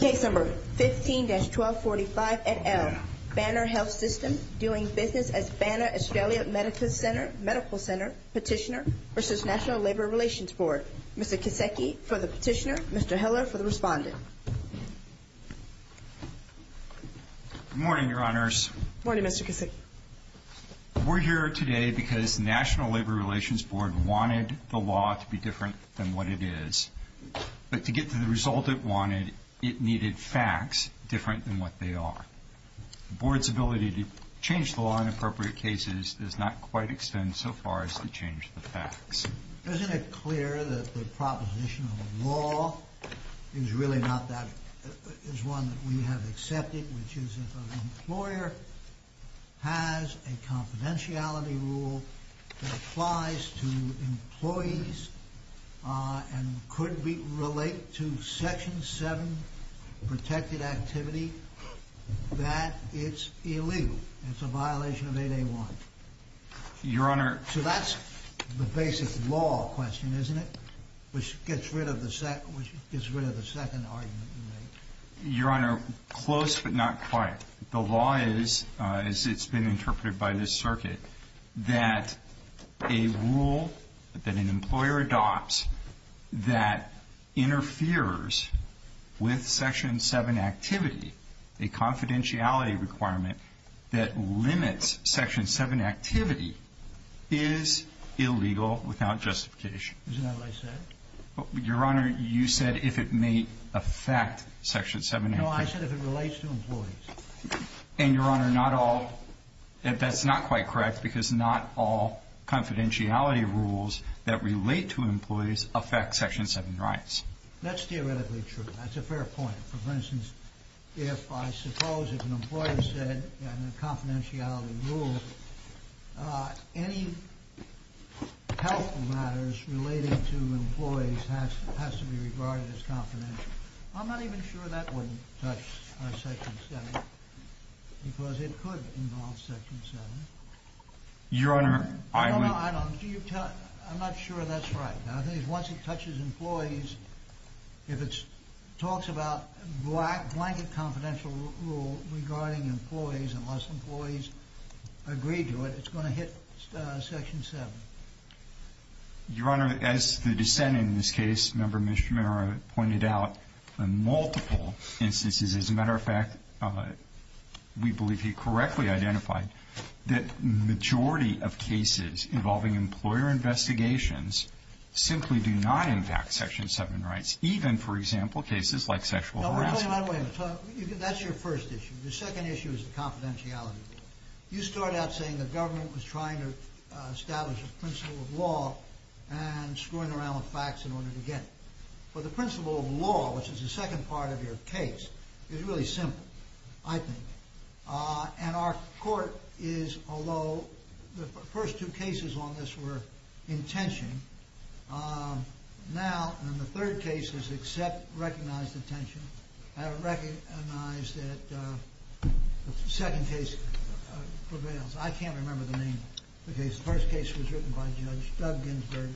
Case No. 15-1245 et al., Banner Health System, dealing business as Banner Australia Medical Center Petitioner v. National Labor Relations Board. Mr. Kisecki for the petitioner, Mr. Hiller for the respondent. Good morning, Your Honors. Good morning, Mr. Kisecki. We're here today because National Labor Relations Board wanted the law to be different than what it is. But to get to the result it wanted, it needed facts different than what they are. The board's ability to change the law in appropriate cases does not quite extend so far as to change the facts. Isn't it clear that the proposition of the law is really not that – is one that we have accepted, which is that an employer has a confidentiality rule that applies to employees and could relate to Section 7 protected activity, that it's illegal, it's a violation of 8A1? Your Honor – So that's the basic law question, isn't it? Which gets rid of the second argument you made. Your Honor, close but not quite. The law is, as it's been interpreted by this circuit, that a rule that an employer adopts that interferes with Section 7 activity, a confidentiality requirement that limits Section 7 activity, is illegal without justification. Isn't that what I said? Your Honor, you said if it may affect Section 7 activity. No, I said if it relates to employees. And, Your Honor, not all – that's not quite correct because not all confidentiality rules that relate to employees affect Section 7 rights. That's theoretically true. That's a fair point. For instance, if I suppose if an employer said in a confidentiality rule any health matters relating to employees has to be regarded as confidential. I'm not even sure that wouldn't touch Section 7 because it could involve Section 7. Your Honor, I would – No, no, I'm not sure that's right. I think once it touches employees, if it talks about blanket confidential rule regarding employees unless employees agree to it, it's going to hit Section 7. Your Honor, as the dissent in this case, Member Mishra pointed out, in multiple instances, as a matter of fact, we believe he correctly identified that the majority of cases involving employer investigations simply do not impact Section 7 rights, even, for example, cases like sexual harassment. No, wait a minute. That's your first issue. The second issue is the confidentiality rule. You start out saying the government was trying to establish a principle of law and screwing around with facts in order to get it. But the principle of law, which is the second part of your case, is really simple, I think. And our court is, although the first two cases on this were intention, now in the third case is accept, recognize the tension, and recognize that the second case prevails. I can't remember the name of the case. The first case was written by Judge Doug Ginsburg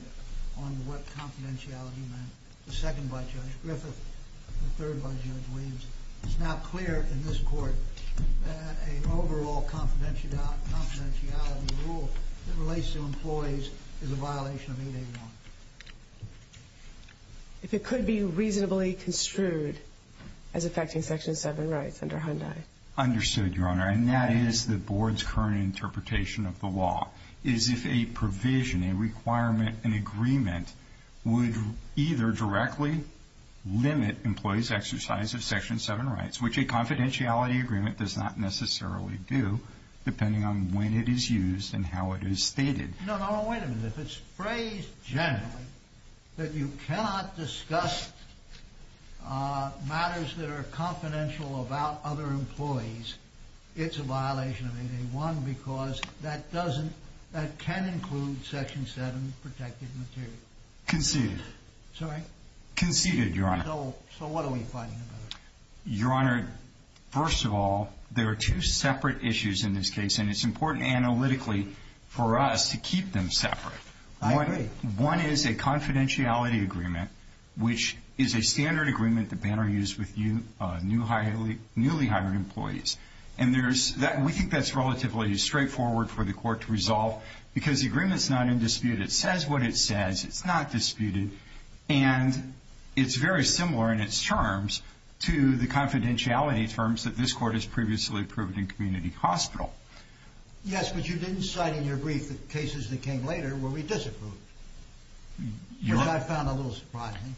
on what confidentiality meant. The second by Judge Griffith. The third by Judge Williams. It's now clear in this court that an overall confidentiality rule that relates to employees is a violation of 8A1. If it could be reasonably construed as affecting Section 7 rights under Hyundai. Understood, Your Honor. And that is the Board's current interpretation of the law, is if a provision, a requirement, an agreement, would either directly limit employees' exercise of Section 7 rights, which a confidentiality agreement does not necessarily do, depending on when it is used and how it is stated. No, no, wait a minute. If it's phrased generally that you cannot discuss matters that are confidential about other employees, it's a violation of 8A1 because that can include Section 7 protected material. Conceded. Sorry? Conceded, Your Honor. So what are we fighting about? Your Honor, first of all, there are two separate issues in this case, and it's important analytically for us to keep them separate. I agree. One is a confidentiality agreement, which is a standard agreement that Banner used with newly hired employees. And we think that's relatively straightforward for the court to resolve because the agreement's not in dispute. It says what it says. It's not disputed. And it's very similar in its terms to the confidentiality terms that this court has previously approved in Community Hospital. Yes, but you didn't cite in your brief the cases that came later where we disapproved, which I found a little surprising.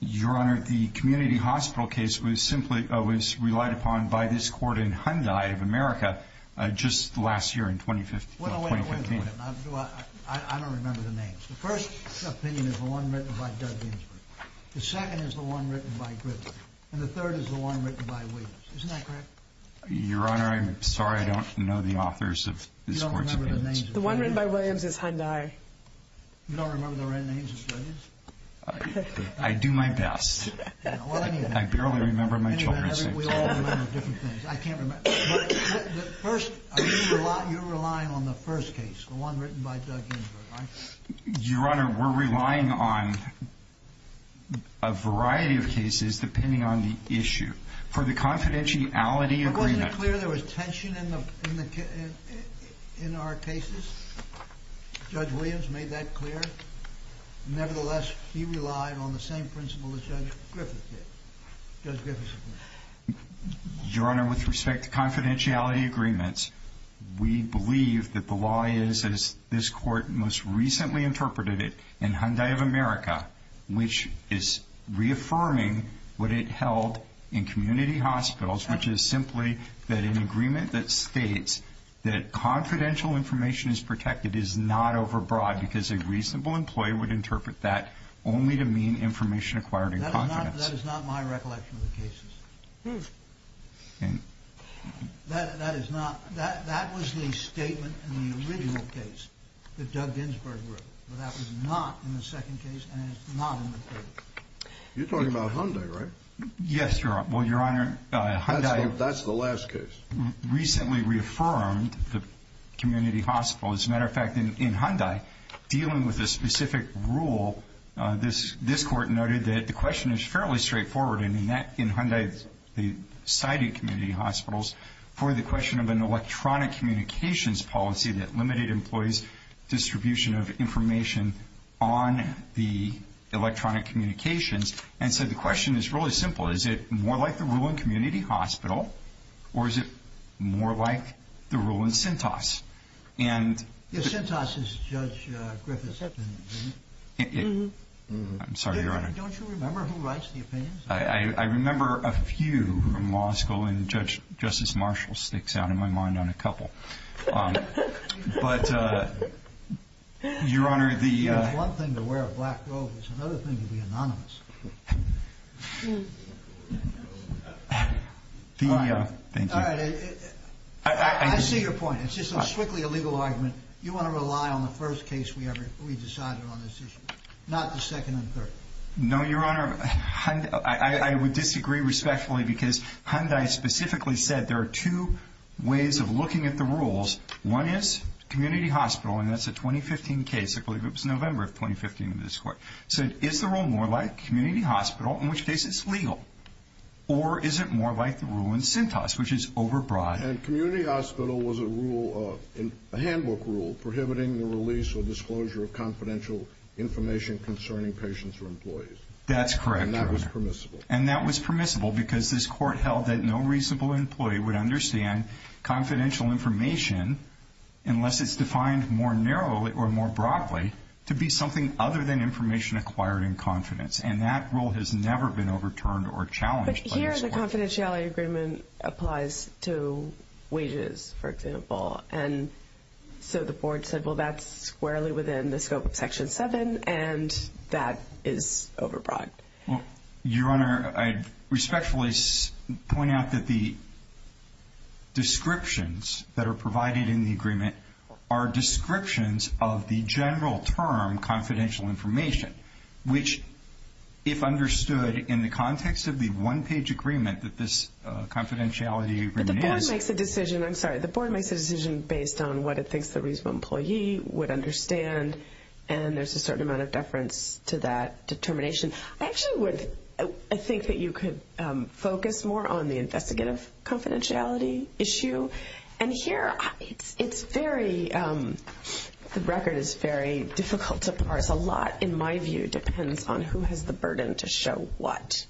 Your Honor, the Community Hospital case was simply relied upon by this court in Hyundai of America just last year in 2015. Wait a minute. I don't remember the names. The first opinion is the one written by Doug Ginsburg. The second is the one written by Griffin. And the third is the one written by Williams. Isn't that correct? Your Honor, I'm sorry. I don't know the authors of this court's opinions. The one written by Williams is Hyundai. You don't remember the written names of studies? I do my best. I barely remember my children's names. We all remember different things. I can't remember. But first, you're relying on the first case, the one written by Doug Ginsburg. Your Honor, we're relying on a variety of cases. It is depending on the issue. For the confidentiality agreement. Wasn't it clear there was tension in our cases? Judge Williams made that clear. Nevertheless, he relied on the same principle as Judge Griffith did. Judge Griffith's opinion. Your Honor, with respect to confidentiality agreements, we believe that the law is, as this court most recently interpreted it, in Hyundai of America, which is reaffirming what it held in community hospitals, which is simply that an agreement that states that confidential information is protected is not overbroad because a reasonable employee would interpret that only to mean information acquired in confidence. That is not my recollection of the cases. That was the statement in the original case that Doug Ginsburg wrote. But that was not in the second case and is not in the third. You're talking about Hyundai, right? Yes, Your Honor. Well, Your Honor, Hyundai recently reaffirmed the community hospitals. As a matter of fact, in Hyundai, dealing with a specific rule, this court noted that the question is fairly straightforward. In Hyundai, they cited community hospitals for the question of an electronic communications policy that limited employees' distribution of information on the electronic communications and said the question is really simple. Is it more like the rule in community hospital or is it more like the rule in Cintas? Yes, Cintas is Judge Griffith's opinion. I'm sorry, Your Honor. Don't you remember who writes the opinions? I remember a few from law school, and Justice Marshall sticks out in my mind on a couple. But, Your Honor, the— One thing to wear a black robe is another thing to be anonymous. Thank you. All right. I see your point. It's just a strictly illegal argument. You want to rely on the first case we decided on this issue, not the second and third. No, Your Honor. I would disagree respectfully because Hyundai specifically said there are two ways of looking at the rules. One is community hospital, and that's a 2015 case. I believe it was November of 2015 in this court. So is the rule more like community hospital, in which case it's legal, or is it more like the rule in Cintas, which is overbroad? And community hospital was a rule, a handbook rule, prohibiting the release or disclosure of confidential information concerning patients or employees. That's correct, Your Honor. And that was permissible. And that was permissible because this court held that no reasonable employee would understand confidential information, unless it's defined more narrowly or more broadly, to be something other than information acquired in confidence. And that rule has never been overturned or challenged by this court. But here the confidentiality agreement applies to wages, for example. And so the board said, well, that's squarely within the scope of Section 7, and that is overbroad. Well, Your Honor, I'd respectfully point out that the descriptions that are provided in the agreement are descriptions of the general term, confidential information, which if understood in the context of the one-page agreement that this confidentiality agreement is. The board makes a decision. I'm sorry. The board makes a decision based on what it thinks the reasonable employee would understand, and there's a certain amount of deference to that determination. I actually would think that you could focus more on the investigative confidentiality issue. And here it's very, the record is very difficult to parse. A lot, in my view, depends on who has the burden to show what.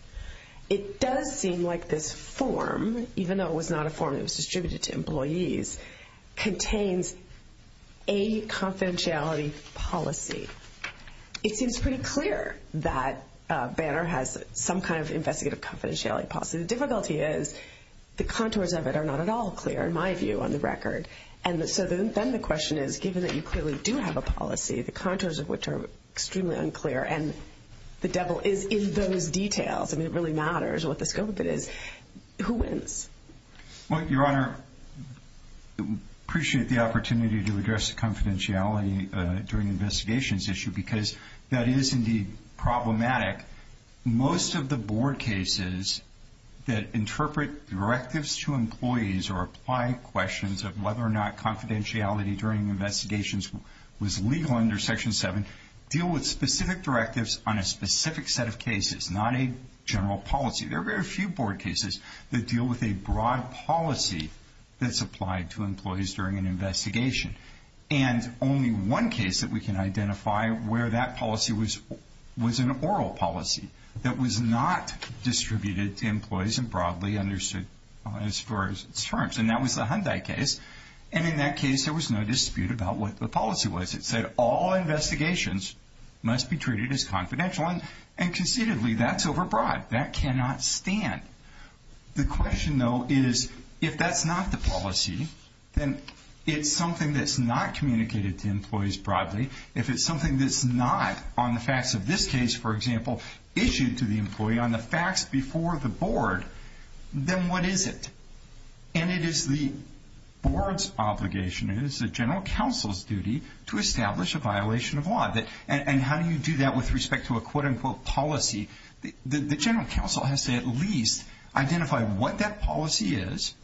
It does seem like this form, even though it was not a form that was distributed to employees, contains a confidentiality policy. It seems pretty clear that Banner has some kind of investigative confidentiality policy. The difficulty is the contours of it are not at all clear, in my view, on the record. And so then the question is, given that you clearly do have a policy, the contours of which are extremely unclear, and the devil is in those details, I mean, it really matters what the scope of it is, who wins? Well, Your Honor, appreciate the opportunity to address confidentiality during investigations issue because that is indeed problematic. Most of the board cases that interpret directives to employees or apply questions of whether or not confidentiality during investigations was legal under Section 7 deal with specific directives on a specific set of cases, not a general policy. There are very few board cases that deal with a broad policy that's applied to employees during an investigation. And only one case that we can identify where that policy was an oral policy that was not distributed to employees and broadly understood as far as its terms, and that was the Hyundai case. And in that case, there was no dispute about what the policy was. It said all investigations must be treated as confidential. And concededly, that's overbroad. That cannot stand. The question, though, is if that's not the policy, then it's something that's not communicated to employees broadly. If it's something that's not on the facts of this case, for example, issued to the employee on the facts before the board, then what is it? And it is the board's obligation, it is the general counsel's duty to establish a violation of law. And how do you do that with respect to a quote-unquote policy? The general counsel has to at least identify what that policy is,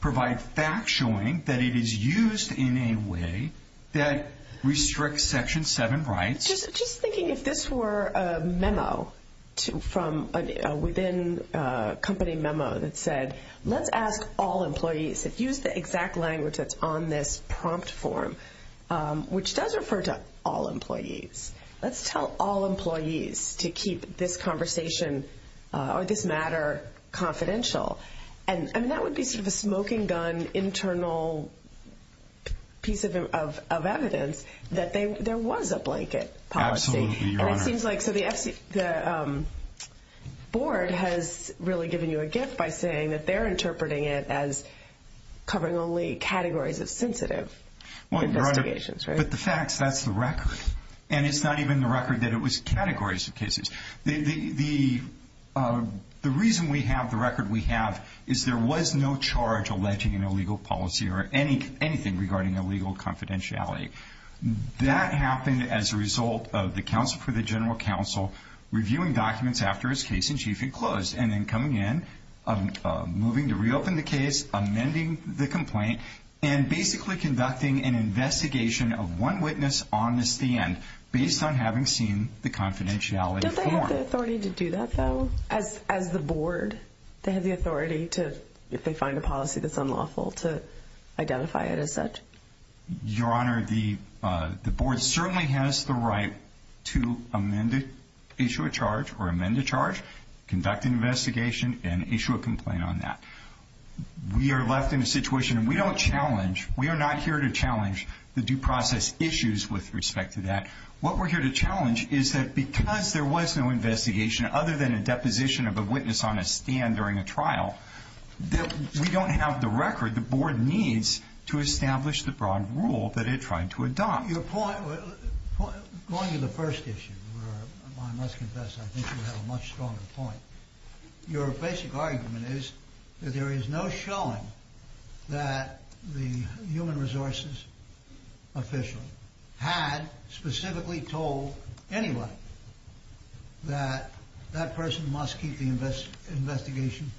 provide facts showing that it is used in a way that restricts Section 7 rights. Just thinking if this were a memo from within a company memo that said let's ask all employees, if you use the exact language that's on this prompt form, which does refer to all employees, let's tell all employees to keep this conversation or this matter confidential. And that would be sort of a smoking gun internal piece of evidence that there was a blanket policy. Absolutely, Your Honor. And it seems like the board has really given you a gift by saying that they're interpreting it as covering only categories of sensitive investigations, right? But the facts, that's the record. And it's not even the record that it was categories of cases. The reason we have the record we have is there was no charge alleging an illegal policy or anything regarding illegal confidentiality. That happened as a result of the counsel for the general counsel reviewing documents after his case in chief had closed and then coming in, moving to reopen the case, amending the complaint, and basically conducting an investigation of one witness on the stand based on having seen the confidentiality. Don't they have the authority to do that, though, as the board? They have the authority to, if they find a policy that's unlawful, to identify it as such? Your Honor, the board certainly has the right to amend it, issue a charge or amend a charge, conduct an investigation, and issue a complaint on that. We are left in a situation, and we don't challenge, we are not here to challenge the due process issues with respect to that. What we're here to challenge is that because there was no investigation other than a deposition of a witness on a stand during a trial, that we don't have the record the board needs to establish the broad rule that it tried to adopt. Your point, going to the first issue, where I must confess I think you have a much stronger point, your basic argument is that there is no showing that the human resources official had specifically told anyone that that person must keep the investigation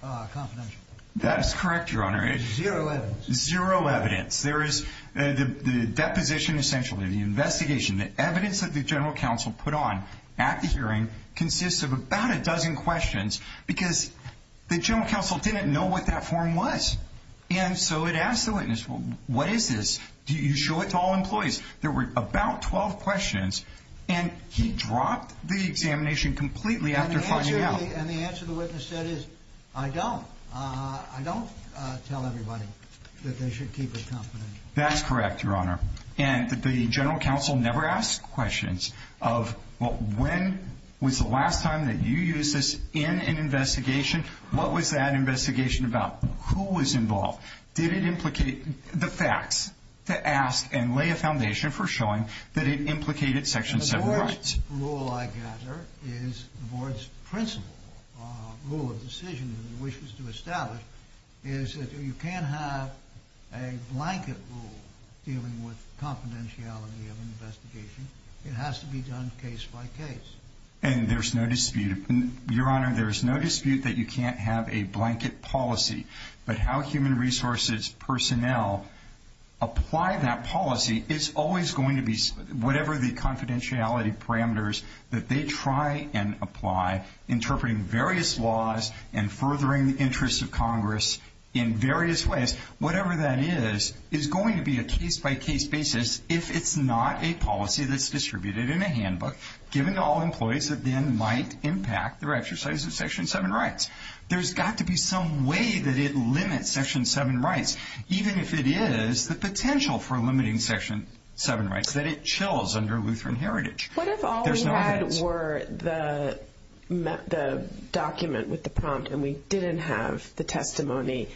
confidential. That is correct, Your Honor. Zero evidence. Zero evidence. The deposition, essentially, the investigation, the evidence that the general counsel put on at the hearing consists of about a dozen questions, because the general counsel didn't know what that form was. And so it asked the witness, what is this? Do you show it to all employees? There were about 12 questions, and he dropped the examination completely after finding out. And the answer the witness said is, I don't. I don't tell everybody that they should keep it confidential. That's correct, Your Honor. And the general counsel never asked questions of, well, when was the last time that you used this in an investigation? What was that investigation about? Who was involved? Did it implicate the facts to ask and lay a foundation for showing that it implicated Section 7 rights? The only rule I gather is the Board's principle rule of decision that it wishes to establish, is that you can't have a blanket rule dealing with confidentiality of an investigation. It has to be done case by case. And there's no dispute. Your Honor, there is no dispute that you can't have a blanket policy, but how human resources personnel apply that policy is always going to be, whatever the confidentiality parameters that they try and apply, interpreting various laws and furthering the interests of Congress in various ways, whatever that is, is going to be a case-by-case basis if it's not a policy that's distributed in a handbook, given to all employees that then might impact their exercise of Section 7 rights. There's got to be some way that it limits Section 7 rights, even if it is the potential for limiting Section 7 rights, that it chills under Lutheran heritage. What if all we had were the document with the prompt and we didn't have the testimony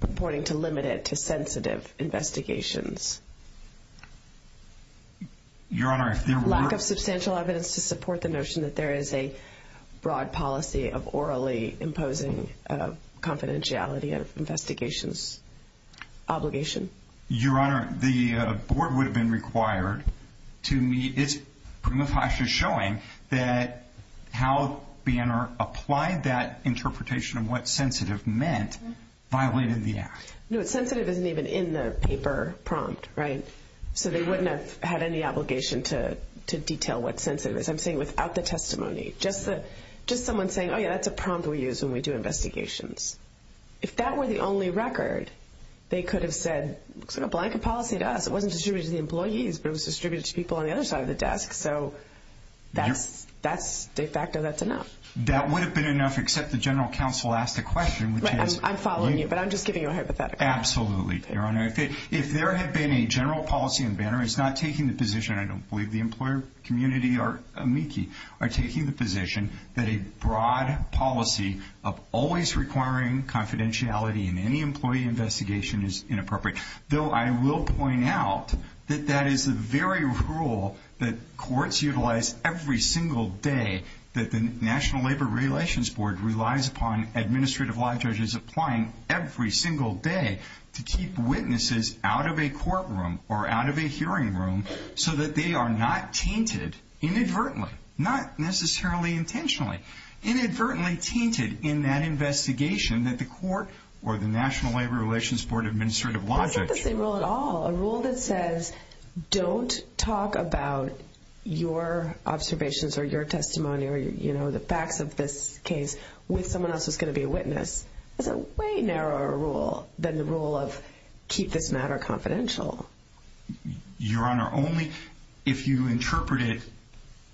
reporting to limit it to sensitive investigations? Your Honor, if there were... Lack of substantial evidence to support the notion that there is a broad policy of orally imposing confidentiality of investigations obligation. Your Honor, the board would have been required to meet. It's pretty much actually showing that how Banner applied that interpretation of what sensitive meant violated the act. No, sensitive isn't even in the paper prompt, right? So they wouldn't have had any obligation to detail what sensitive is. I'm saying without the testimony. Just someone saying, oh, yeah, that's a prompt we use when we do investigations. If that were the only record, they could have said, looks like a blanket policy to us. It wasn't distributed to the employees, but it was distributed to people on the other side of the desk. So de facto, that's enough. That would have been enough, except the general counsel asked the question, which is... I'm following you, but I'm just giving you a hypothetical. Absolutely, Your Honor. If there had been a general policy, and Banner is not taking the position, and I don't believe the employer community or amici are taking the position that a broad policy of always requiring confidentiality in any employee investigation is inappropriate, though I will point out that that is the very rule that courts utilize every single day that the National Labor Relations Board relies upon and the Administrative Law Judge is applying every single day to keep witnesses out of a courtroom or out of a hearing room so that they are not tainted inadvertently, not necessarily intentionally, inadvertently tainted in that investigation that the court or the National Labor Relations Board Administrative Law Judge... It's not the same rule at all. A rule that says, don't talk about your observations or your testimony or the facts of this case with someone else who's going to be a witness is a way narrower rule than the rule of keep this matter confidential. Your Honor, only if you interpret it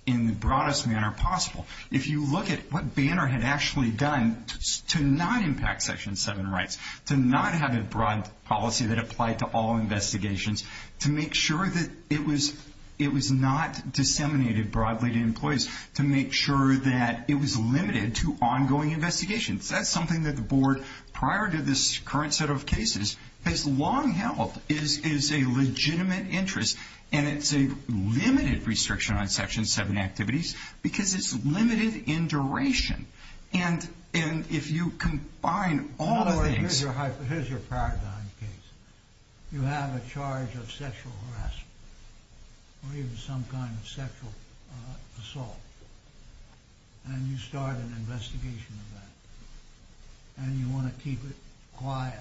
in the broadest manner possible. If you look at what Banner had actually done to not impact Section 7 rights, to not have a broad policy that applied to all investigations, to make sure that it was not disseminated broadly to employees, to make sure that it was limited to ongoing investigations. That's something that the board, prior to this current set of cases, has long held is a legitimate interest and it's a limited restriction on Section 7 activities because it's limited in duration. And if you combine all the things... Your Honor, here's your paradigm case. You have a charge of sexual harassment or even some kind of sexual assault and you start an investigation of that. And you want to keep it quiet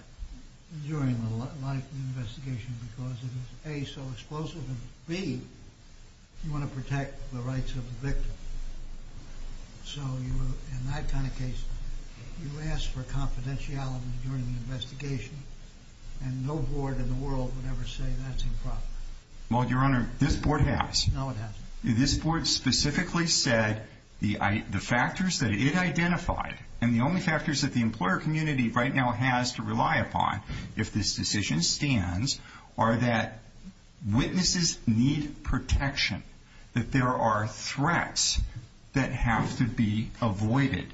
during the investigation because it is, A, so explosive and, B, you want to protect the rights of the victim. So in that kind of case, you ask for confidentiality during the investigation and no board in the world would ever say that's improper. Well, Your Honor, this board has. No, it hasn't. This board specifically said the factors that it identified and the only factors that the employer community right now has to rely upon if this decision stands are that witnesses need protection, that there are threats that have to be avoided,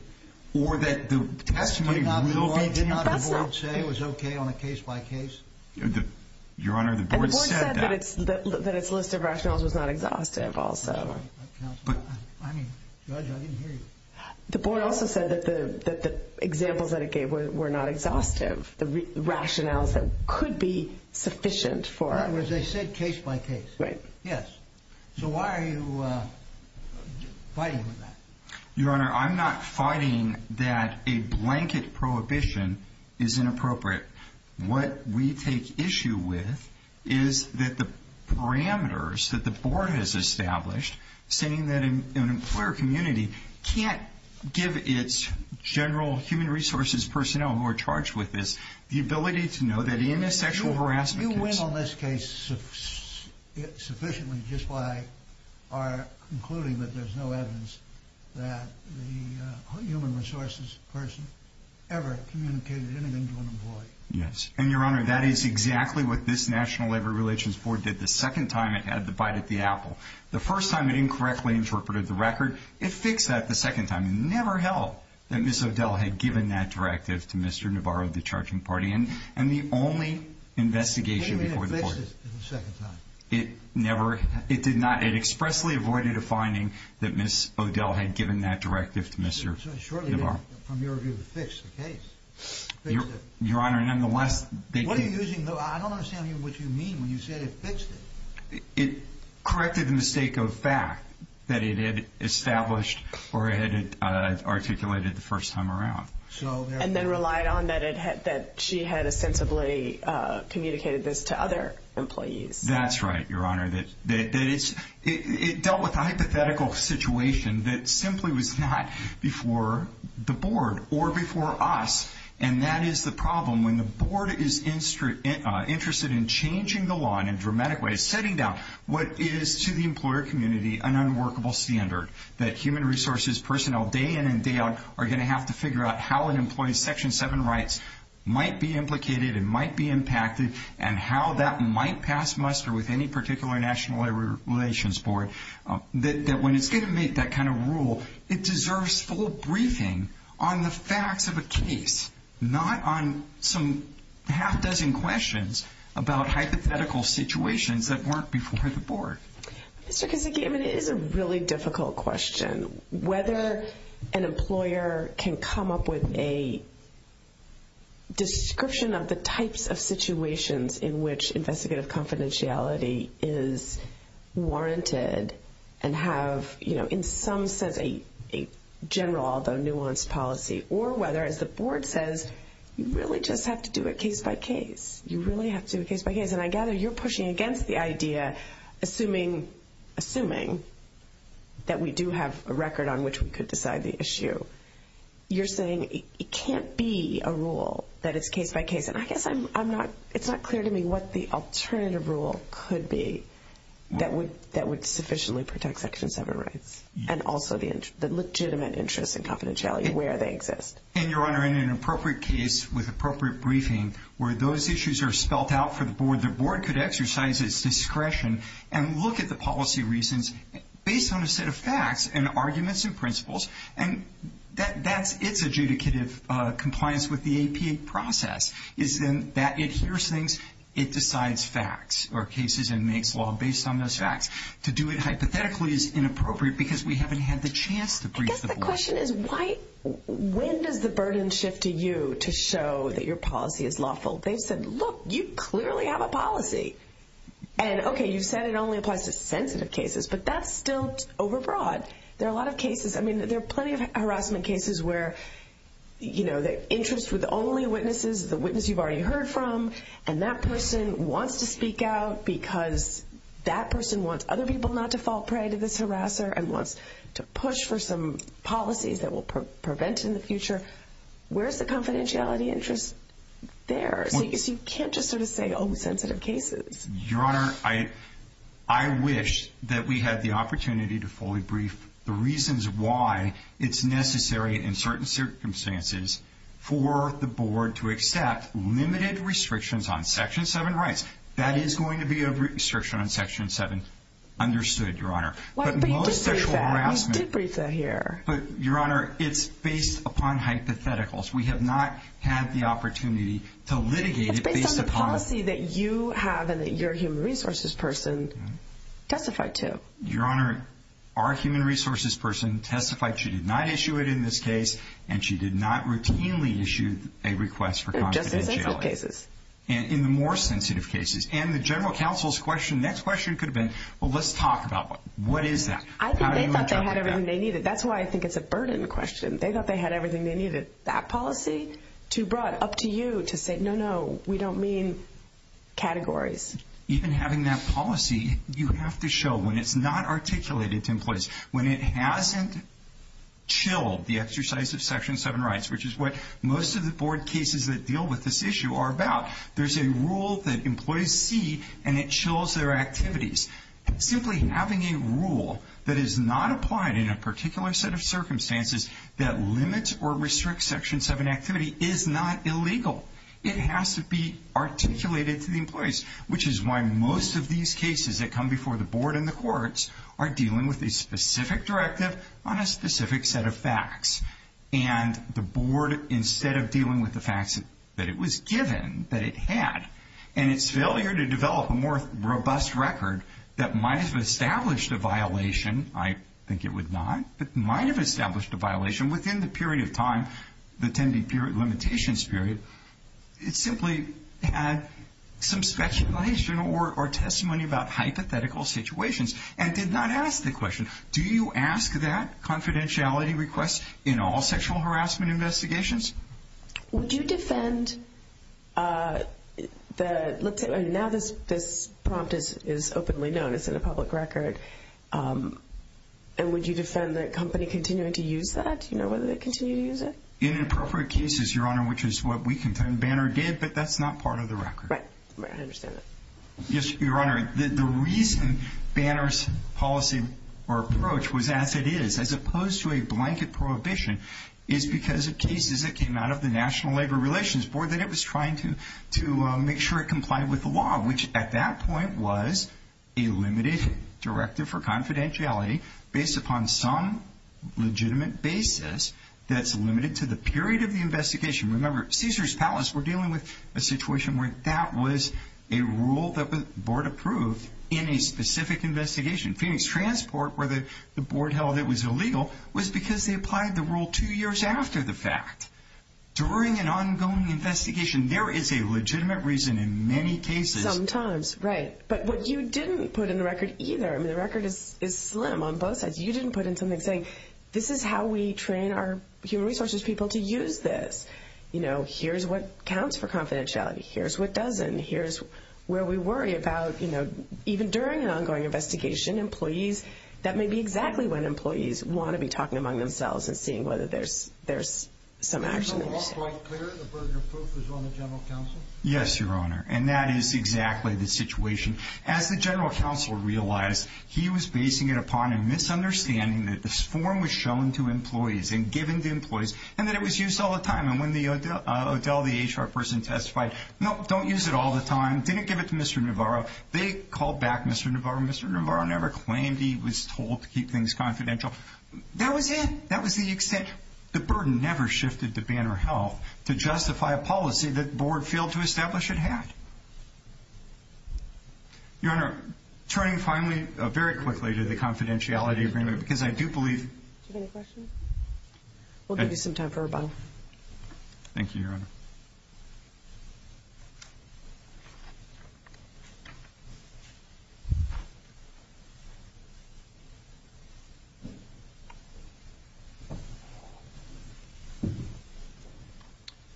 or that the testimony will be... Did not the board say it was okay on a case-by-case? Your Honor, the board said that. And the board said that its list of rationales was not exhaustive also. But, I mean, Judge, I didn't hear you. The board also said that the examples that it gave were not exhaustive, the rationales that could be sufficient for... In other words, they said case-by-case. Right. Yes. So why are you fighting with that? Your Honor, I'm not fighting that a blanket prohibition is inappropriate. What we take issue with is that the parameters that the board has established, saying that an employer community can't give its general human resources personnel who are charged with this the ability to know that in a sexual harassment case... You are concluding that there's no evidence that the human resources person ever communicated anything to an employee. Yes. And, Your Honor, that is exactly what this National Labor Relations Board did the second time it had the bite at the apple. The first time it incorrectly interpreted the record. It fixed that the second time. It never helped that Ms. O'Dell had given that directive to Mr. Navarro of the charging party. And the only investigation before the board... What do you mean it fixed it the second time? It never... It did not... It expressly avoided a finding that Ms. O'Dell had given that directive to Mr. Navarro. Surely, from your view, it fixed the case. Your Honor, nonetheless... What are you using... I don't understand what you mean when you say it fixed it. It corrected the mistake of fact that it had established or had articulated the first time around. And then relied on that she had sensibly communicated this to other employees. That's right, Your Honor. It dealt with a hypothetical situation that simply was not before the board or before us. And that is the problem. When the board is interested in changing the law in a dramatic way, setting down what is, to the employer community, an unworkable standard, that human resources personnel, day in and day out, are going to have to figure out how an employee's Section 7 rights might be implicated and might be impacted and how that might pass muster with any particular National Labor Relations Board, that when it's going to make that kind of rule, it deserves full briefing on the facts of a case, not on some half-dozen questions about hypothetical situations that weren't before the board. Mr. Kissingham, it is a really difficult question. Whether an employer can come up with a description of the types of situations in which investigative confidentiality is warranted and have in some sense a general, although nuanced, policy, or whether, as the board says, you really just have to do it case by case. You really have to do it case by case. And I gather you're pushing against the idea, assuming that we do have a record on which we could decide the issue, you're saying it can't be a rule that it's case by case. And I guess it's not clear to me what the alternative rule could be that would sufficiently protect Section 7 rights and also the legitimate interest in confidentiality where they exist. And, Your Honor, in an appropriate case with appropriate briefing, where those issues are spelt out for the board, the board could exercise its discretion and look at the policy reasons based on a set of facts and arguments and principles. And that's its adjudicative compliance with the APA process is that it hears things, it decides facts or cases and makes law based on those facts. To do it hypothetically is inappropriate because we haven't had the chance to brief the board. I guess the question is when does the burden shift to you to show that your policy is lawful? They've said, look, you clearly have a policy. And, okay, you said it only applies to sensitive cases, but that's still over broad. There are a lot of cases, I mean, there are plenty of harassment cases where, you know, the interest with only witnesses, the witness you've already heard from, and that person wants to speak out because that person wants other people not to fall prey to this harasser and wants to push for some policies that will prevent in the future. Where's the confidentiality interest there? So you can't just sort of say, oh, sensitive cases. Your Honor, I wish that we had the opportunity to fully brief the reasons why it's necessary in certain circumstances for the board to accept limited restrictions on Section 7 rights. That is going to be a restriction on Section 7. Understood, Your Honor. But you did brief that. But most sexual harassment. You did brief that here. But, Your Honor, it's based upon hypotheticals. We have not had the opportunity to litigate it based upon. It's based on the policy that you have and that your human resources person testified to. Your Honor, our human resources person testified she did not issue it in this case, and she did not routinely issue a request for confidentiality. In just the sensitive cases. In the more sensitive cases. And the general counsel's next question could have been, well, let's talk about what is that? I think they thought they had everything they needed. That's why I think it's a burden question. They thought they had everything they needed. That policy? Too broad. Up to you to say, no, no, we don't mean categories. Even having that policy, you have to show when it's not articulated to employees, when it hasn't chilled the exercise of Section 7 rights, which is what most of the board cases that deal with this issue are about, there's a rule that employees see and it chills their activities. Simply having a rule that is not applied in a particular set of circumstances that limits or restricts Section 7 activity is not illegal. It has to be articulated to the employees, which is why most of these cases that come before the board and the courts are dealing with a specific directive on a specific set of facts. And the board, instead of dealing with the facts that it was given, that it had, and its failure to develop a more robust record that might have established a violation, I think it would not, that might have established a violation within the period of time, the 10-day limitations period, it simply had some speculation or testimony about hypothetical situations and did not ask the question, do you ask that confidentiality request in all sexual harassment investigations? Would you defend the, now this prompt is openly known, it's in a public record, and would you defend the company continuing to use that? Do you know whether they continue to use it? In appropriate cases, Your Honor, which is what we contend, Banner did, but that's not part of the record. Right, I understand that. Yes, Your Honor. The reason Banner's policy or approach was as it is, as opposed to a blanket prohibition, is because of cases that came out of the National Labor Relations Board that it was trying to make sure it complied with the law, which at that point was a limited directive for confidentiality based upon some legitimate basis that's limited to the period of the investigation. Remember, Caesars Palace, we're dealing with a situation where that was a rule that the board approved in a specific investigation. Phoenix Transport, where the board held it was illegal, was because they applied the rule two years after the fact. During an ongoing investigation, there is a legitimate reason in many cases. Sometimes, right. But what you didn't put in the record either, I mean the record is slim on both sides, you didn't put in something saying, this is how we train our human resources people to use this. You know, here's what counts for confidentiality, here's what doesn't, here's where we worry about, you know, even during an ongoing investigation, employees, that may be exactly when employees want to be talking among themselves and seeing whether there's some action. Is the law quite clear, the burden of proof is on the General Counsel? Yes, Your Honor, and that is exactly the situation. As the General Counsel realized, he was basing it upon a misunderstanding that this form was shown to employees and given to employees, and that it was used all the time. And when Odell, the HR person testified, no, don't use it all the time, didn't give it to Mr. Navarro, they called back Mr. Navarro, Mr. Navarro never claimed he was told to keep things confidential. That was it, that was the extent. The burden never shifted to Banner Health to justify a policy that the Board failed to establish it had. Your Honor, turning finally, very quickly, to the confidentiality agreement, because I do believe... Do you have any questions? We'll give you some time for rebuttal. Thank you, Your Honor. Thank you.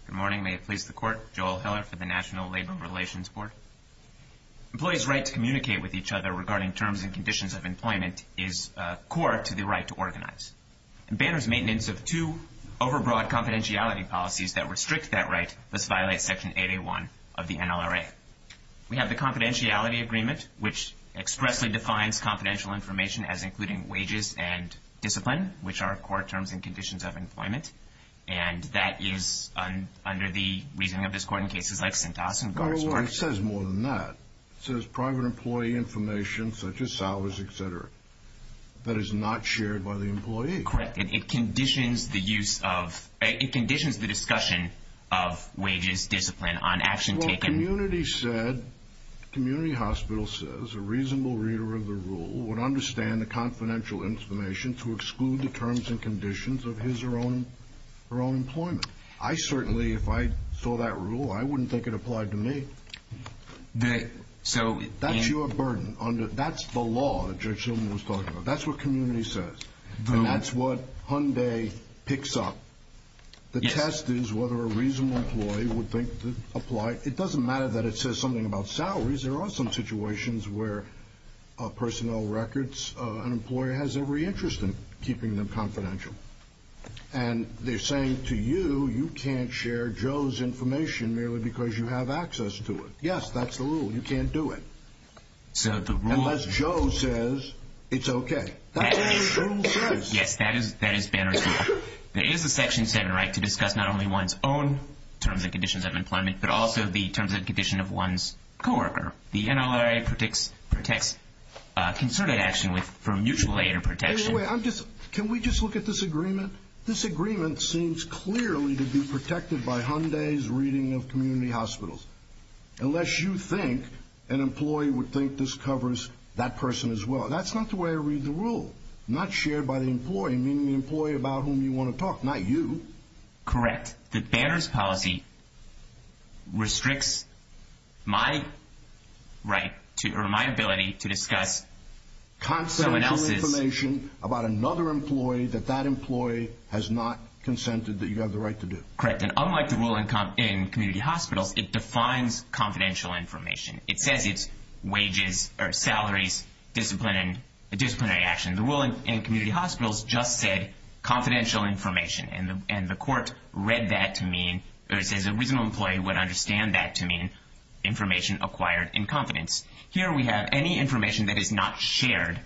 Good morning, may it please the Court. Joel Hiller for the National Labor Relations Board. Employees' right to communicate with each other regarding terms and conditions of employment is core to the right to organize. In Banner's maintenance of two overbroad confidentiality policies that restrict that right, this violates Section 8A1 of the NLRA. We have the confidentiality agreement, which expressly defines confidential information as including wages and discipline, which are core terms and conditions of employment. And that is under the reasoning of this Court in cases like Sintas and Gartsburg. It says more than that. It says private employee information, such as salaries, etc., that is not shared by the employee. Correct. It conditions the use of... It conditions the discussion of wages, discipline, on action taken... The community said, the community hospital says, a reasonable reader of the rule would understand the confidential information to exclude the terms and conditions of his or her own employment. I certainly, if I saw that rule, I wouldn't think it applied to me. That's your burden. That's the law that Judge Shulman was talking about. That's what community says. And that's what Hyundai picks up. The test is whether a reasonable employee would think it applied. It doesn't matter that it says something about salaries. There are some situations where personnel records, an employer has every interest in keeping them confidential. And they're saying to you, you can't share Joe's information merely because you have access to it. Yes, that's the rule. You can't do it. Unless Joe says it's okay. That's what the rule says. Yes, that is Banner's rule. There is a Section 7 right to discuss not only one's own terms and conditions of employment, but also the terms and conditions of one's co-worker. The NLRA protects concerted action from mutual aid and protection. Wait, wait, wait. Can we just look at this agreement? This agreement seems clearly to be protected by Hyundai's reading of community hospitals. Unless you think an employee would think this covers that person as well. That's not the way I read the rule. Not shared by the employee, meaning the employee about whom you want to talk, not you. Correct. The Banner's policy restricts my right or my ability to discuss someone else's. Confidential information about another employee that that employee has not consented that you have the right to do. Correct. And unlike the rule in community hospitals, it defines confidential information. It says it's wages or salaries, disciplinary action. The rule in community hospitals just said confidential information. And the court read that to mean, or it says a reasonable employee would understand that to mean information acquired in confidence. Here we have any information that is not shared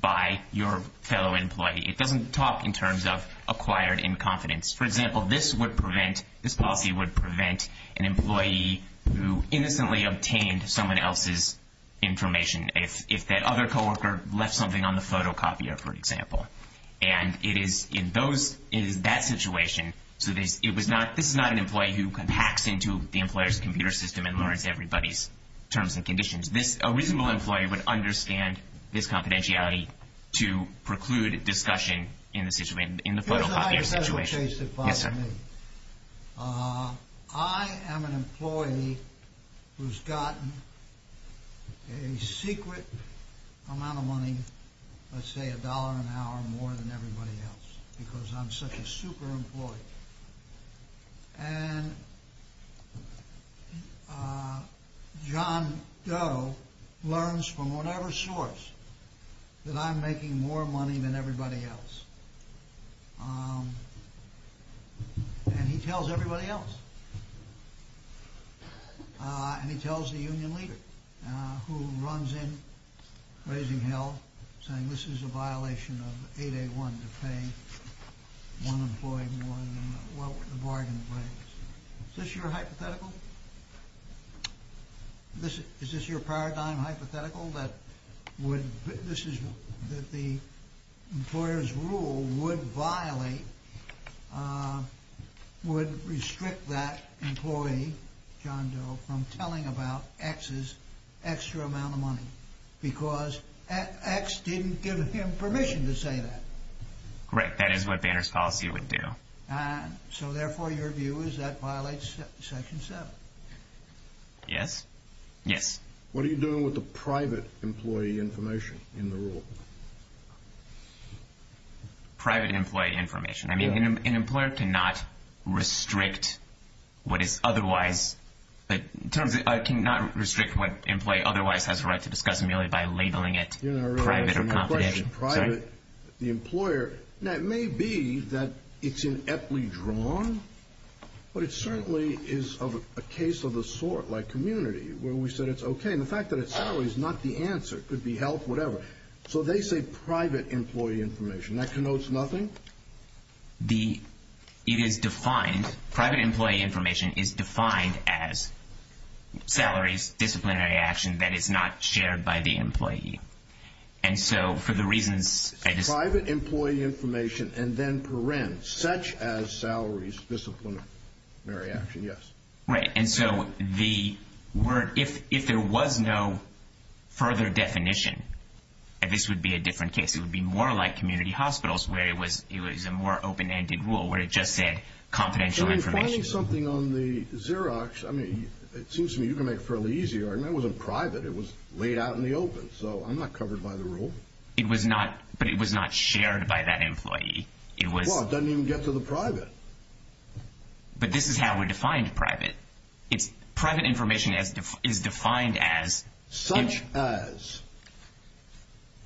by your fellow employee. It doesn't talk in terms of acquired in confidence. For example, this would prevent, this policy would prevent an employee who innocently obtained someone else's information. If that other co-worker left something on the photocopier, for example. And it is in those, it is that situation. So this, it was not, this is not an employee who hacks into the employer's computer system and learns everybody's terms and conditions. This, a reasonable employee would understand this confidentiality to preclude discussion in the situation, in the photocopier situation. Yes, sir. I am an employee who's gotten a secret amount of money, let's say a dollar an hour more than everybody else. Because I'm such a super employee. And John Doe learns from whatever source that I'm making more money than everybody else. And he tells everybody else. And he tells the union leader who runs in, raising hell, saying this is a violation of 8A1 to pay one employee more than what the bargain breaks. Is this your hypothetical? This, is this your paradigm hypothetical? That would, this is, that the employer's rule would violate, would restrict that employee, John Doe, from telling about X's extra amount of money. Because X didn't give him permission to say that. Right, that is what Banner's policy would do. So therefore, your view is that violates Section 7. Yes. Yes. What are you doing with the private employee information in the rule? Private employee information. I mean, an employer cannot restrict what is otherwise, in terms of, cannot restrict what an employee otherwise has a right to discuss merely by labeling it private or confidential. The employer, now it may be that it's ineptly drawn, but it certainly is of a case of the sort, like community, where we said it's okay. And the fact that it's salaries is not the answer. It could be health, whatever. So they say private employee information. That connotes nothing? The, it is defined, private employee information is defined as salaries, disciplinary action that is not shared by the employee. And so, for the reasons, I just. Private employee information, and then paren, such as salaries, disciplinary action, yes. Right. And so, the word, if there was no further definition, this would be a different case. It would be more like community hospitals, where it was, it was a more open-ended rule, where it just said confidential information. Tell me something on the Xerox. I mean, it seems to me you can make it fairly easy. That wasn't private. It was laid out in the open. So, I'm not covered by the rule. It was not, but it was not shared by that employee. It was. Well, it doesn't even get to the private. But this is how we defined private. It's, private information is defined as. Such as.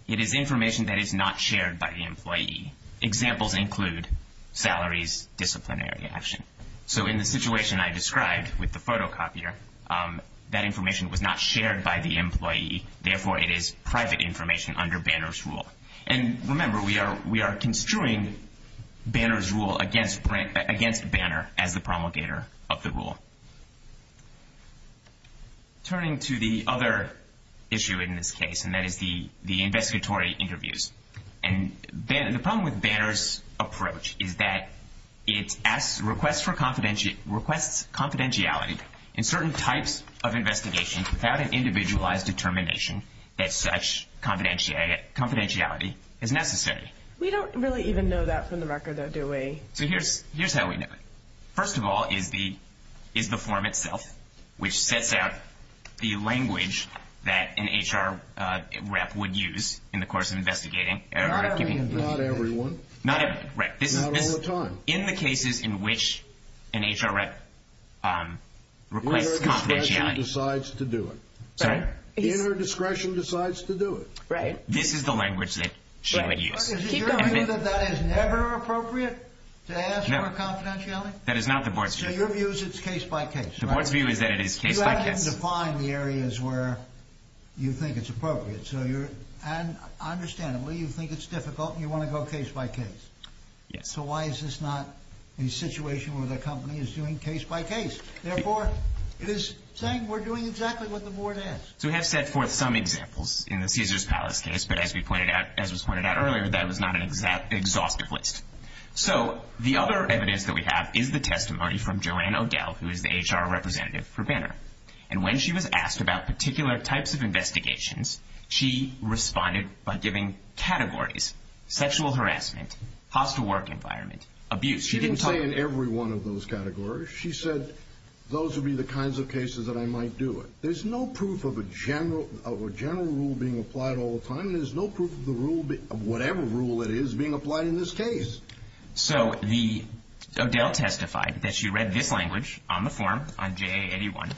It is information that is not shared by the employee. Examples include salaries, disciplinary action. So, in the situation I described with the photocopier, that information was not shared by the employee. Therefore, it is private information under Banner's rule. And remember, we are construing Banner's rule against Banner as the promulgator of the rule. Turning to the other issue in this case, and that is the investigatory interviews. And the problem with Banner's approach is that it requests confidentiality in certain types of investigations without an individualized determination that such confidentiality is necessary. We don't really even know that from the record, though, do we? So, here's how we know it. First of all is the form itself, which sets out the language that an HR rep would use in the course of investigating. Not everyone. Not everyone, right. Not all the time. In the cases in which an HR rep requests confidentiality. Inner discretion decides to do it. Sorry? Inner discretion decides to do it. Right. This is the language that she would use. Is it your view that that is never appropriate to ask for confidentiality? No. That is not the board's view. So, your view is it's case by case. The board's view is that it is case by case. You have to define the areas where you think it's appropriate. So, understandably, you think it's difficult and you want to go case by case. Yes. So, why is this not a situation where the company is doing case by case? Therefore, it is saying we're doing exactly what the board asks. So, we have set forth some examples in the Caesars Palace case, but as was pointed out earlier, that was not an exhaustive list. So, the other evidence that we have is the testimony from Joanne O'Dell, who is the HR representative for Banner. And when she was asked about particular types of investigations, she responded by giving categories, sexual harassment, hostile work environment, abuse. She didn't say in every one of those categories. She said those would be the kinds of cases that I might do it. There's no proof of a general rule being applied all the time. There's no proof of whatever rule it is being applied in this case. So, O'Dell testified that she read this language on the form, on JA81,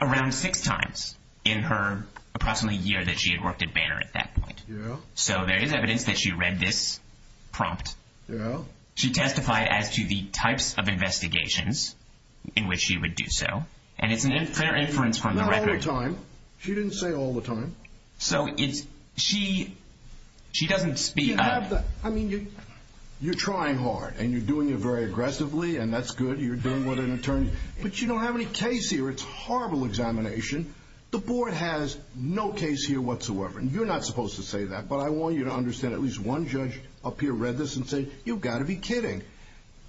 around six times in her approximately year that she had worked at Banner at that point. Yeah. So, there is evidence that she read this prompt. Yeah. She testified as to the types of investigations in which she would do so, and it's a fair inference from the record. Not all the time. She didn't say all the time. So, she doesn't speak up. I mean, you're trying hard, and you're doing it very aggressively, and that's good. You're doing what an attorney—but you don't have any case here. It's a horrible examination. The board has no case here whatsoever, and you're not supposed to say that, but I want you to understand at least one judge up here read this and said, you've got to be kidding.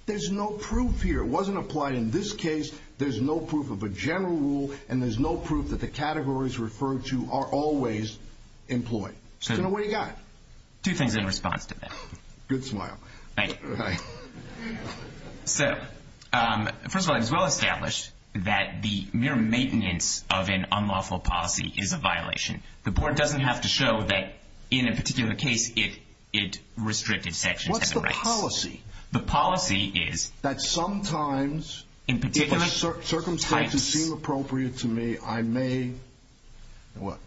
There's no proof here. It wasn't applied in this case. There's no proof of a general rule, and there's no proof that the categories referred to are always employed. So, what do you got? Two things in response to that. Good smile. Thank you. All right. So, first of all, it is well established that the mere maintenance of an unlawful policy is a violation. The board doesn't have to show that in a particular case it restricted sections of the rights. What's the policy? The policy is that sometimes, if the circumstances seem appropriate to me, I may—what?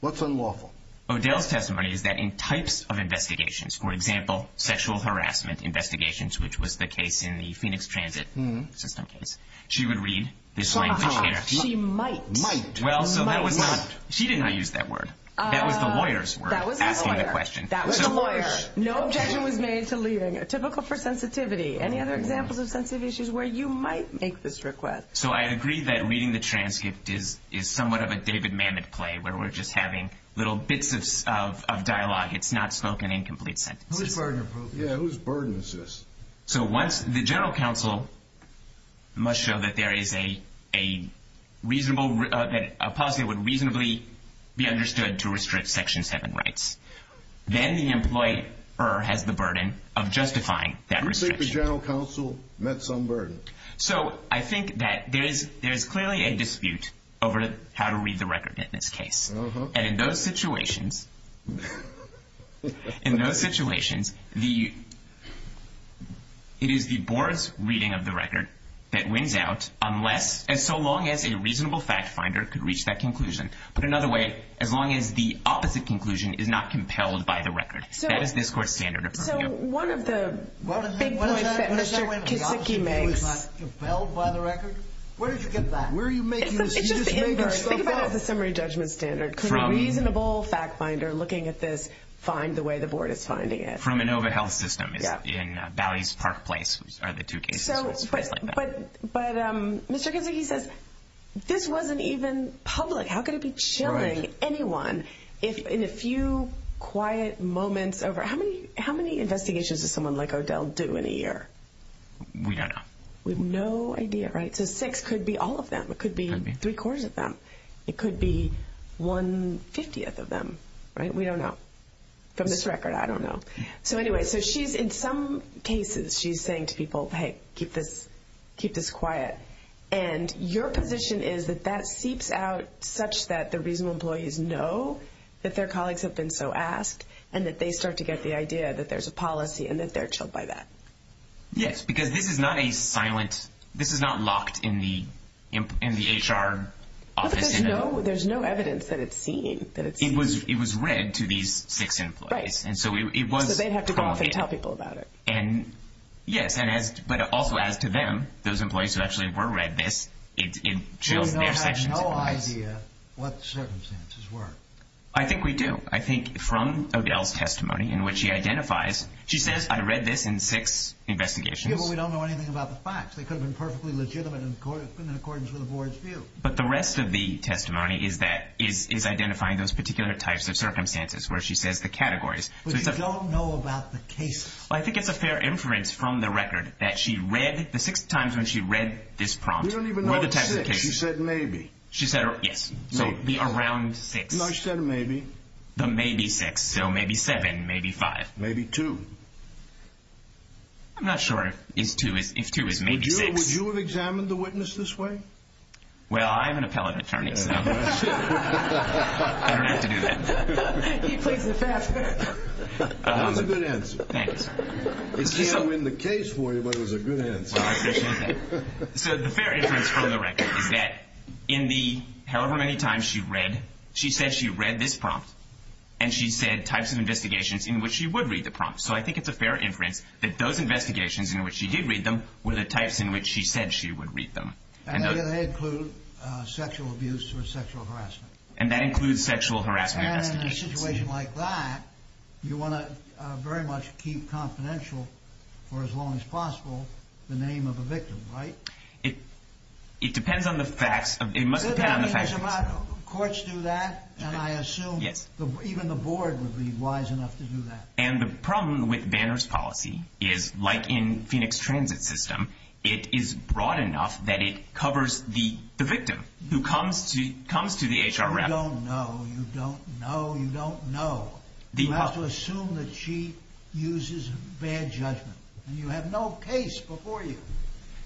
What's unlawful? O'Dell's testimony is that in types of investigations, for example, sexual harassment investigations, which was the case in the Phoenix Transit system case, she would read this language here. She might. Might. Well, so that was not—she did not use that word. That was the lawyer's word asking the question. That was the lawyer's. No objection was made to leaving. Typical for sensitivity. Any other examples of sensitive issues where you might make this request? So, I agree that reading the transcript is somewhat of a David Mamet play, where we're just having little bits of dialogue. It's not spoken in complete sentences. Whose burden is this? So, once the general counsel must show that there is a reasonable—that a policy would reasonably be understood to restrict Section 7 rights, then the employer has the burden of justifying that restriction. You think the general counsel met some burden? So, I think that there is clearly a dispute over how to read the record in this case. And in those situations—in those situations, it is the board's reading of the record that wins out unless— and so long as a reasonable fact finder could reach that conclusion. But another way, as long as the opposite conclusion is not compelled by the record. That is this court's standard of— So, one of the big points that Mr. Kitsiki makes— What does that mean? It's not compelled by the record? Where did you get that? Where are you making this— It's just the image. Think about it as a summary judgment standard. Could a reasonable fact finder looking at this find the way the board is finding it? From ANOVA Health System in Bally's Park Place are the two cases. But Mr. Kitsiki says, this wasn't even public. How could it be chilling anyone in a few quiet moments over— How many investigations does someone like Odell do in a year? We don't know. We have no idea, right? So, six could be all of them. It could be three-quarters of them. It could be one-fiftieth of them, right? We don't know. From this record, I don't know. So, anyway, in some cases, she's saying to people, hey, keep this quiet. And your position is that that seeps out such that the reasonable employees know that their colleagues have been so asked and that they start to get the idea that there's a policy and that they're chilled by that. Yes, because this is not a silent—this is not locked in the HR office. No, but there's no evidence that it's seen. It was read to these six employees. Right. So, they'd have to go off and tell people about it. Yes, but also as to them, those employees who actually were read this, it chills their sections. So, you have no idea what the circumstances were. I think we do. I think from Odell's testimony in which he identifies—she says, I read this in six investigations. Yeah, but we don't know anything about the facts. They could have been perfectly legitimate and in accordance with the board's view. But the rest of the testimony is identifying those particular types of circumstances where she says the categories. But you don't know about the cases. Well, I think it's a fair inference from the record that she read the six times when she read this prompt. We don't even know what six. What are the types of cases? She said maybe. She said—yes. So, the around six. No, she said maybe. The maybe six. So, maybe seven, maybe five. Maybe two. I'm not sure if two is maybe six. Would you have examined the witness this way? Well, I'm an appellate attorney, so I don't have to do that. He plays it fast. That was a good answer. Thank you, sir. I can't win the case for you, but it was a good answer. Well, I appreciate that. So, the fair inference from the record is that in the however many times she read, she said she read this prompt, and she said types of investigations in which she would read the prompt. So, I think it's a fair inference that those investigations in which she did read them were the types in which she said she would read them. And they include sexual abuse or sexual harassment. And that includes sexual harassment investigations. And in a situation like that, you want to very much keep confidential for as long as possible the name of the victim, right? It depends on the facts. It must depend on the facts. Courts do that, and I assume even the board would be wise enough to do that. And the problem with Banner's policy is, like in Phoenix Transit's system, it is broad enough that it covers the victim who comes to the HR rep. You don't know, you don't know, you don't know. You have to assume that she uses bad judgment. And you have no case before you.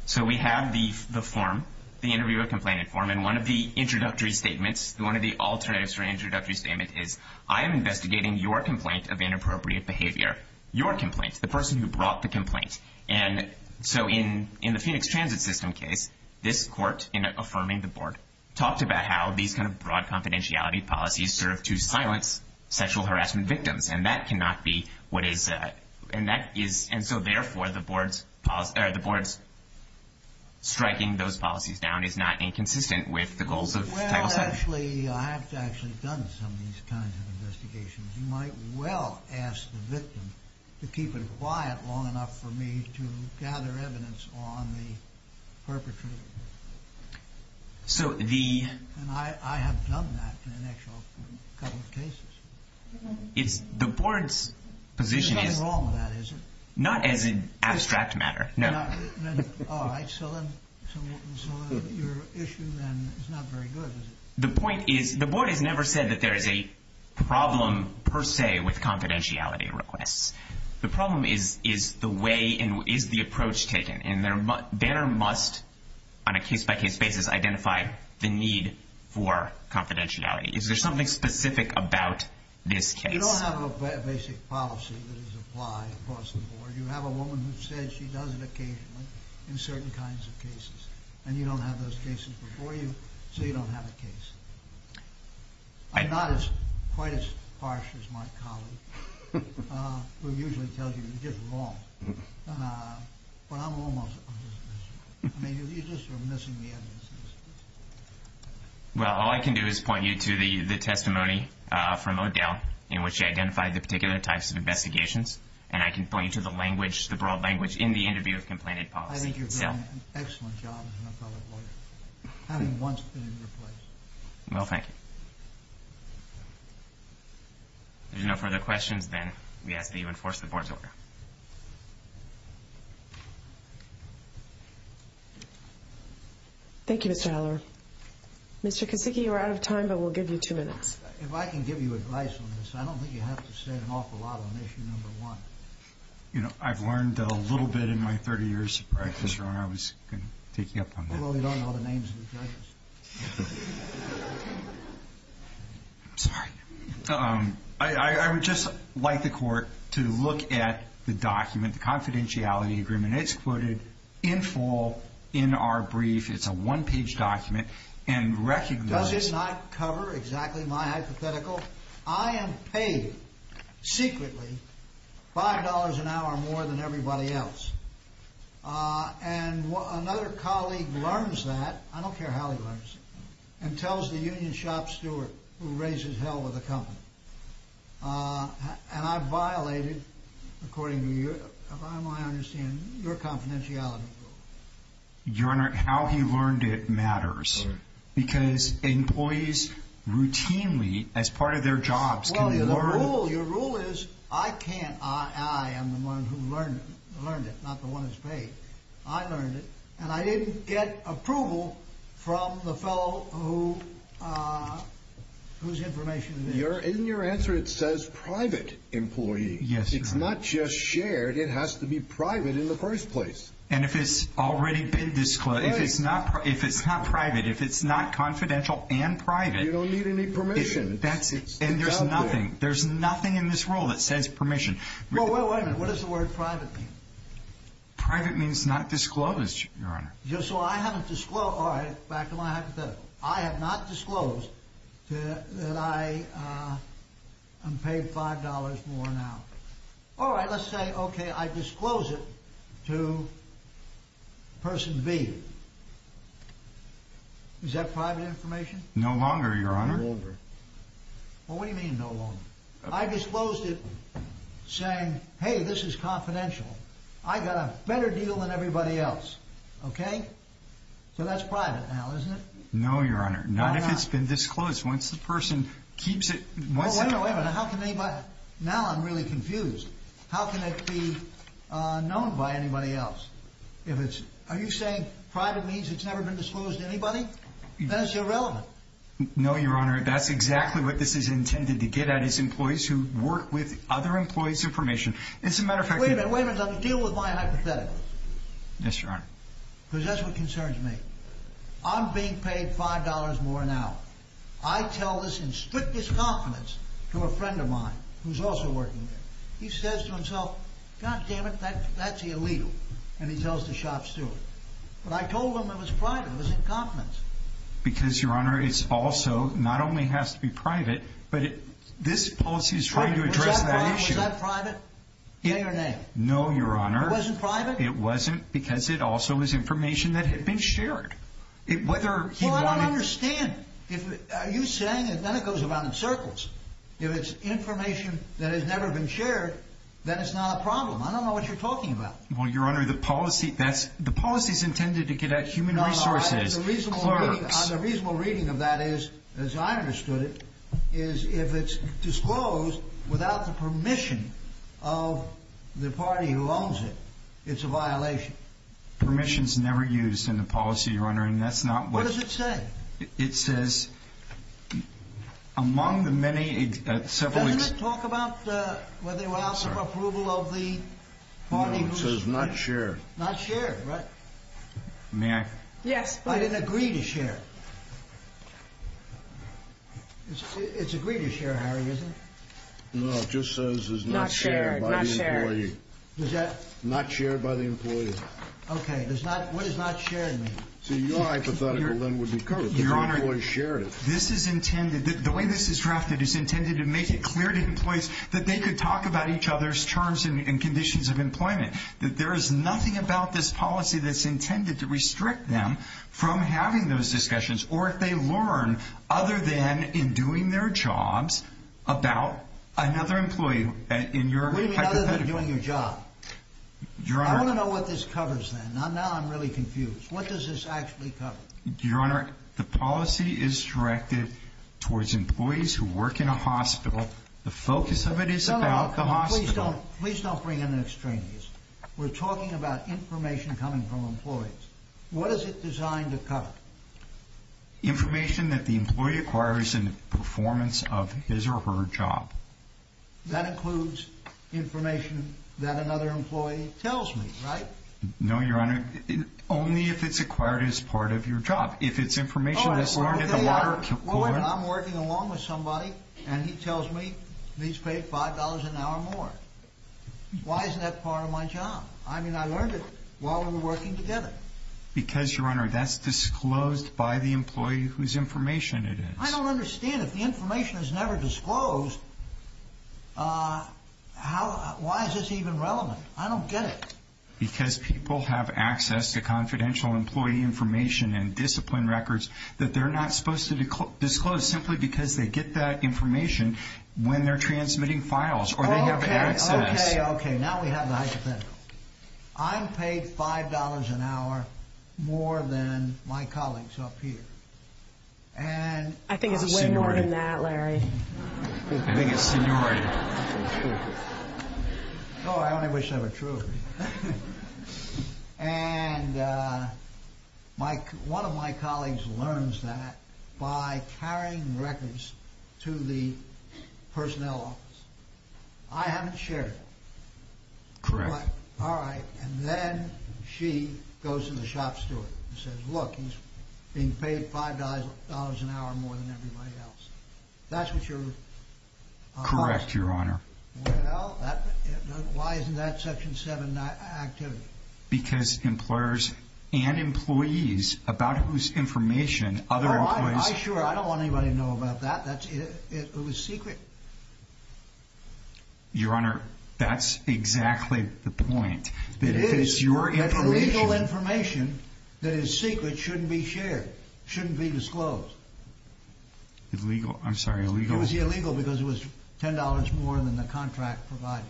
So, we have the form, the interviewer complaint form, and one of the introductory statements, one of the alternatives for an introductory statement is, I am investigating your complaint of inappropriate behavior. Your complaint, the person who brought the complaint. And so, in the Phoenix Transit system case, this court, in affirming the board, talked about how these kind of broad confidentiality policies serve to silence sexual harassment victims. And that cannot be what is, and that is, and so therefore, the board's striking those policies down is not inconsistent with the goals of Title VI. Well, actually, I have actually done some of these kinds of investigations. You might well ask the victim to keep it quiet long enough for me to gather evidence on the perpetrator. So, the... And I have done that in an actual couple of cases. It's, the board's position is... There's nothing wrong with that, is there? Not as an abstract matter, no. All right, so then, your issue then is not very good, is it? The point is, the board has never said that there is a problem, per se, with confidentiality requests. The problem is, is the way, and is the approach taken. And there must, on a case-by-case basis, identify the need for confidentiality. Is there something specific about this case? You don't have a basic policy that is applied across the board. You have a woman who says she does it occasionally in certain kinds of cases. And you don't have those cases before you, so you don't have a case. I'm not quite as harsh as my colleague, who usually tells you you did it wrong. But I'm almost as harsh. I mean, you're just sort of missing the evidence. Well, all I can do is point you to the testimony from O'Dell, in which he identified the particular types of investigations. And I can point you to the language, the broad language, in the interview of Complainant Policy. I think you've done an excellent job as an appellate lawyer, having once been in your place. Well, thank you. If there's no further questions, then we ask that you enforce the board's order. Thank you, Mr. Haller. Mr. Kosicki, you are out of time, but we'll give you two minutes. If I can give you advice on this, I don't think you have to say an awful lot on issue number one. You know, I've learned a little bit in my 30 years of practice. Ron, I was taking up on that. Well, we don't know the names of the judges. I'm sorry. I would just like the Court to look at the document, the confidentiality agreement. It's quoted in full in our brief. It's a one-page document. And recognize— Does it not cover exactly my hypothetical? I am paid secretly $5 an hour more than everybody else. And another colleague learns that. I don't care how he learns it. And tells the union shop steward, who raises hell with the company. And I violated, according to my understanding, your confidentiality rule. Your Honor, how he learned it matters. Because employees routinely, as part of their jobs, can learn— Well, your rule is, I can't—I am the one who learned it, not the one who's paid. I learned it, and I didn't get approval from the fellow whose information it is. In your answer, it says private employee. Yes, Your Honor. It's not just shared. It has to be private in the first place. And if it's already been disclosed— If it's not private, if it's not confidential and private— You don't need any permission. That's it. And there's nothing. There's nothing in this rule that says permission. Well, wait a minute. What does the word private mean? Private means not disclosed, Your Honor. Just so I haven't disclosed—all right. Back to my hypothetical. I have not disclosed that I am paid $5 more an hour. All right. Let's say, okay, I disclose it to person B. Is that private information? No longer, Your Honor. No longer. Well, what do you mean, no longer? I disclosed it saying, hey, this is confidential. I got a better deal than everybody else. Okay? So that's private now, isn't it? No, Your Honor. Not if it's been disclosed. Once the person keeps it— Well, wait a minute. Now I'm really confused. How can it be known by anybody else? Are you saying private means it's never been disclosed to anybody? Then it's irrelevant. No, Your Honor. That's exactly what this is intended to get at is employees who work with other employees' information. As a matter of fact— Wait a minute. Wait a minute. Let me deal with my hypothetical. Yes, Your Honor. Because that's what concerns me. I'm being paid $5 more an hour. I tell this in strictest confidence to a friend of mine who's also working there. He says to himself, God damn it, that's illegal. And he tells the shop steward. But I told him it was private. It was in confidence. Because, Your Honor, it also not only has to be private, but this policy is trying to address that issue— Was that private? Was that private? Yeah, your name. No, Your Honor. It wasn't private? It wasn't because it also was information that had been shared. Whether he wanted— Are you saying—then it goes around in circles. If it's information that has never been shared, then it's not a problem. I don't know what you're talking about. Well, Your Honor, the policy is intended to get at human resources, clerks— No, no. The reasonable reading of that is, as I understood it, is if it's disclosed without the permission of the party who owns it, it's a violation. Permission's never used in the policy, Your Honor, and that's not what— What does it say? It says, among the many— Doesn't it talk about whether it allows for approval of the party who— No, it says not shared. Not shared, right? May I— Yes, but— I didn't agree to share. It's agreed to share, Harry, isn't it? No, it just says it's not shared by the employee. Not shared, not shared. Is that— Not shared by the employee. Okay, what does not shared mean? So your hypothetical, then, would be covered. Your Honor, this is intended—the way this is drafted is intended to make it clear to employees that they could talk about each other's terms and conditions of employment, that there is nothing about this policy that's intended to restrict them from having those discussions or if they learn, other than in doing their jobs, about another employee in your hypothetical. What do you mean, other than doing your job? I want to know what this covers, then. Now I'm really confused. What does this actually cover? Your Honor, the policy is directed towards employees who work in a hospital. The focus of it is about the hospital. No, no, please don't—please don't bring in an extraneous. We're talking about information coming from employees. What is it designed to cover? Information that the employee acquires in the performance of his or her job. That includes information that another employee tells me, right? No, Your Honor. Only if it's acquired as part of your job. If it's information that's learned in the law or court. What if I'm working along with somebody and he tells me he's paid $5 an hour more? Why isn't that part of my job? I mean, I learned it while we were working together. Because, Your Honor, that's disclosed by the employee whose information it is. I don't understand. If the information is never disclosed, how—why is this even relevant? I don't get it. Because people have access to confidential employee information and discipline records that they're not supposed to disclose simply because they get that information when they're transmitting files or they have access— Okay, okay, okay. Now we have the hypothetical. I'm paid $5 an hour more than my colleagues up here. And— I think it's way more than that, Larry. I think it's seniority. Oh, I only wish that were true. And one of my colleagues learns that by carrying records to the personnel office. I haven't shared it. Correct. All right. And then she goes to the shop steward and says, Look, he's being paid $5 an hour more than everybody else. That's what your— Correct, Your Honor. Well, that—why isn't that Section 7 activity? Because employers and employees about whose information other employees— Why? I sure—I don't want anybody to know about that. That's—it was secret. Your Honor, that's exactly the point. It is. That if it's your information— That's illegal information that is secret, shouldn't be shared, shouldn't be disclosed. Illegal? I'm sorry, illegal? It was illegal because it was $10 more than the contract provided.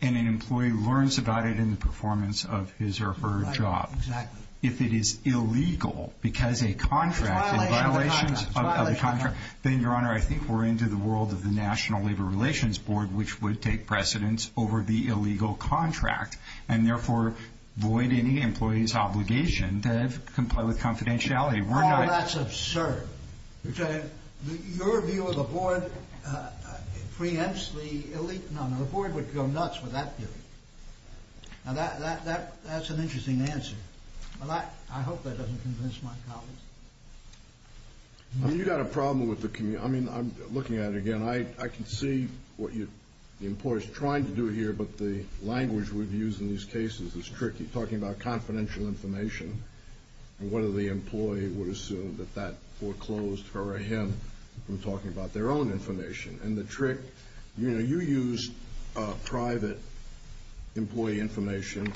And an employee learns about it in the performance of his or her job. Right, exactly. If it is illegal because a contract— It's a violation of the contract. Then, Your Honor, I think we're into the world of the National Labor Relations Board, which would take precedence over the illegal contract and therefore void any employee's obligation to comply with confidentiality. We're not— Oh, that's absurd. Your view of the board preempts the elite— No, no, the board would go nuts with that view. Now, that's an interesting answer. I hope that doesn't convince my colleagues. You've got a problem with the—I mean, I'm looking at it again. I can see what the employer is trying to do here, but the language we've used in these cases is tricky, talking about confidential information and whether the employee would assume that that foreclosed her or him from talking about their own information. And the trick—you know, you used private employee information.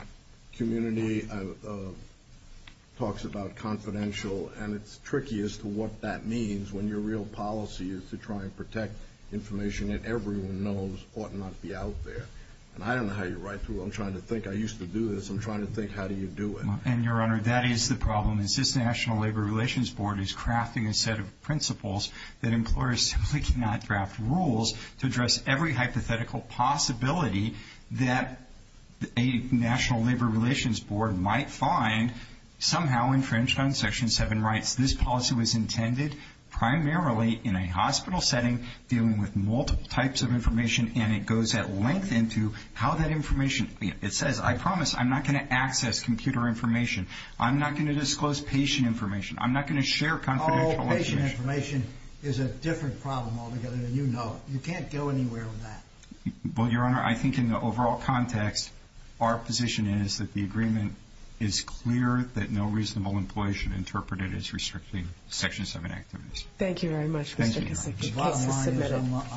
Community talks about confidential, and it's tricky as to what that means when your real policy is to try and protect information that everyone knows ought not to be out there. And I don't know how you write to it. I'm trying to think. I used to do this. I'm trying to think how do you do it. And, Your Honor, that is the problem, is this National Labor Relations Board is crafting a set of principles that employers simply cannot draft rules to address every hypothetical possibility that a National Labor Relations Board might find somehow infringed on Section 7 rights. This policy was intended primarily in a hospital setting, dealing with multiple types of information, and it goes at length into how that information— it says, I promise I'm not going to access computer information. I'm not going to disclose patient information. I'm not going to share confidential information. Oh, patient information is a different problem altogether than you know it. You can't go anywhere with that. Well, Your Honor, I think in the overall context, our position is that the agreement is clear that no reasonable employer should interpret it as restricting Section 7 activities. Thank you very much, Mr. Kissinger. The case is submitted.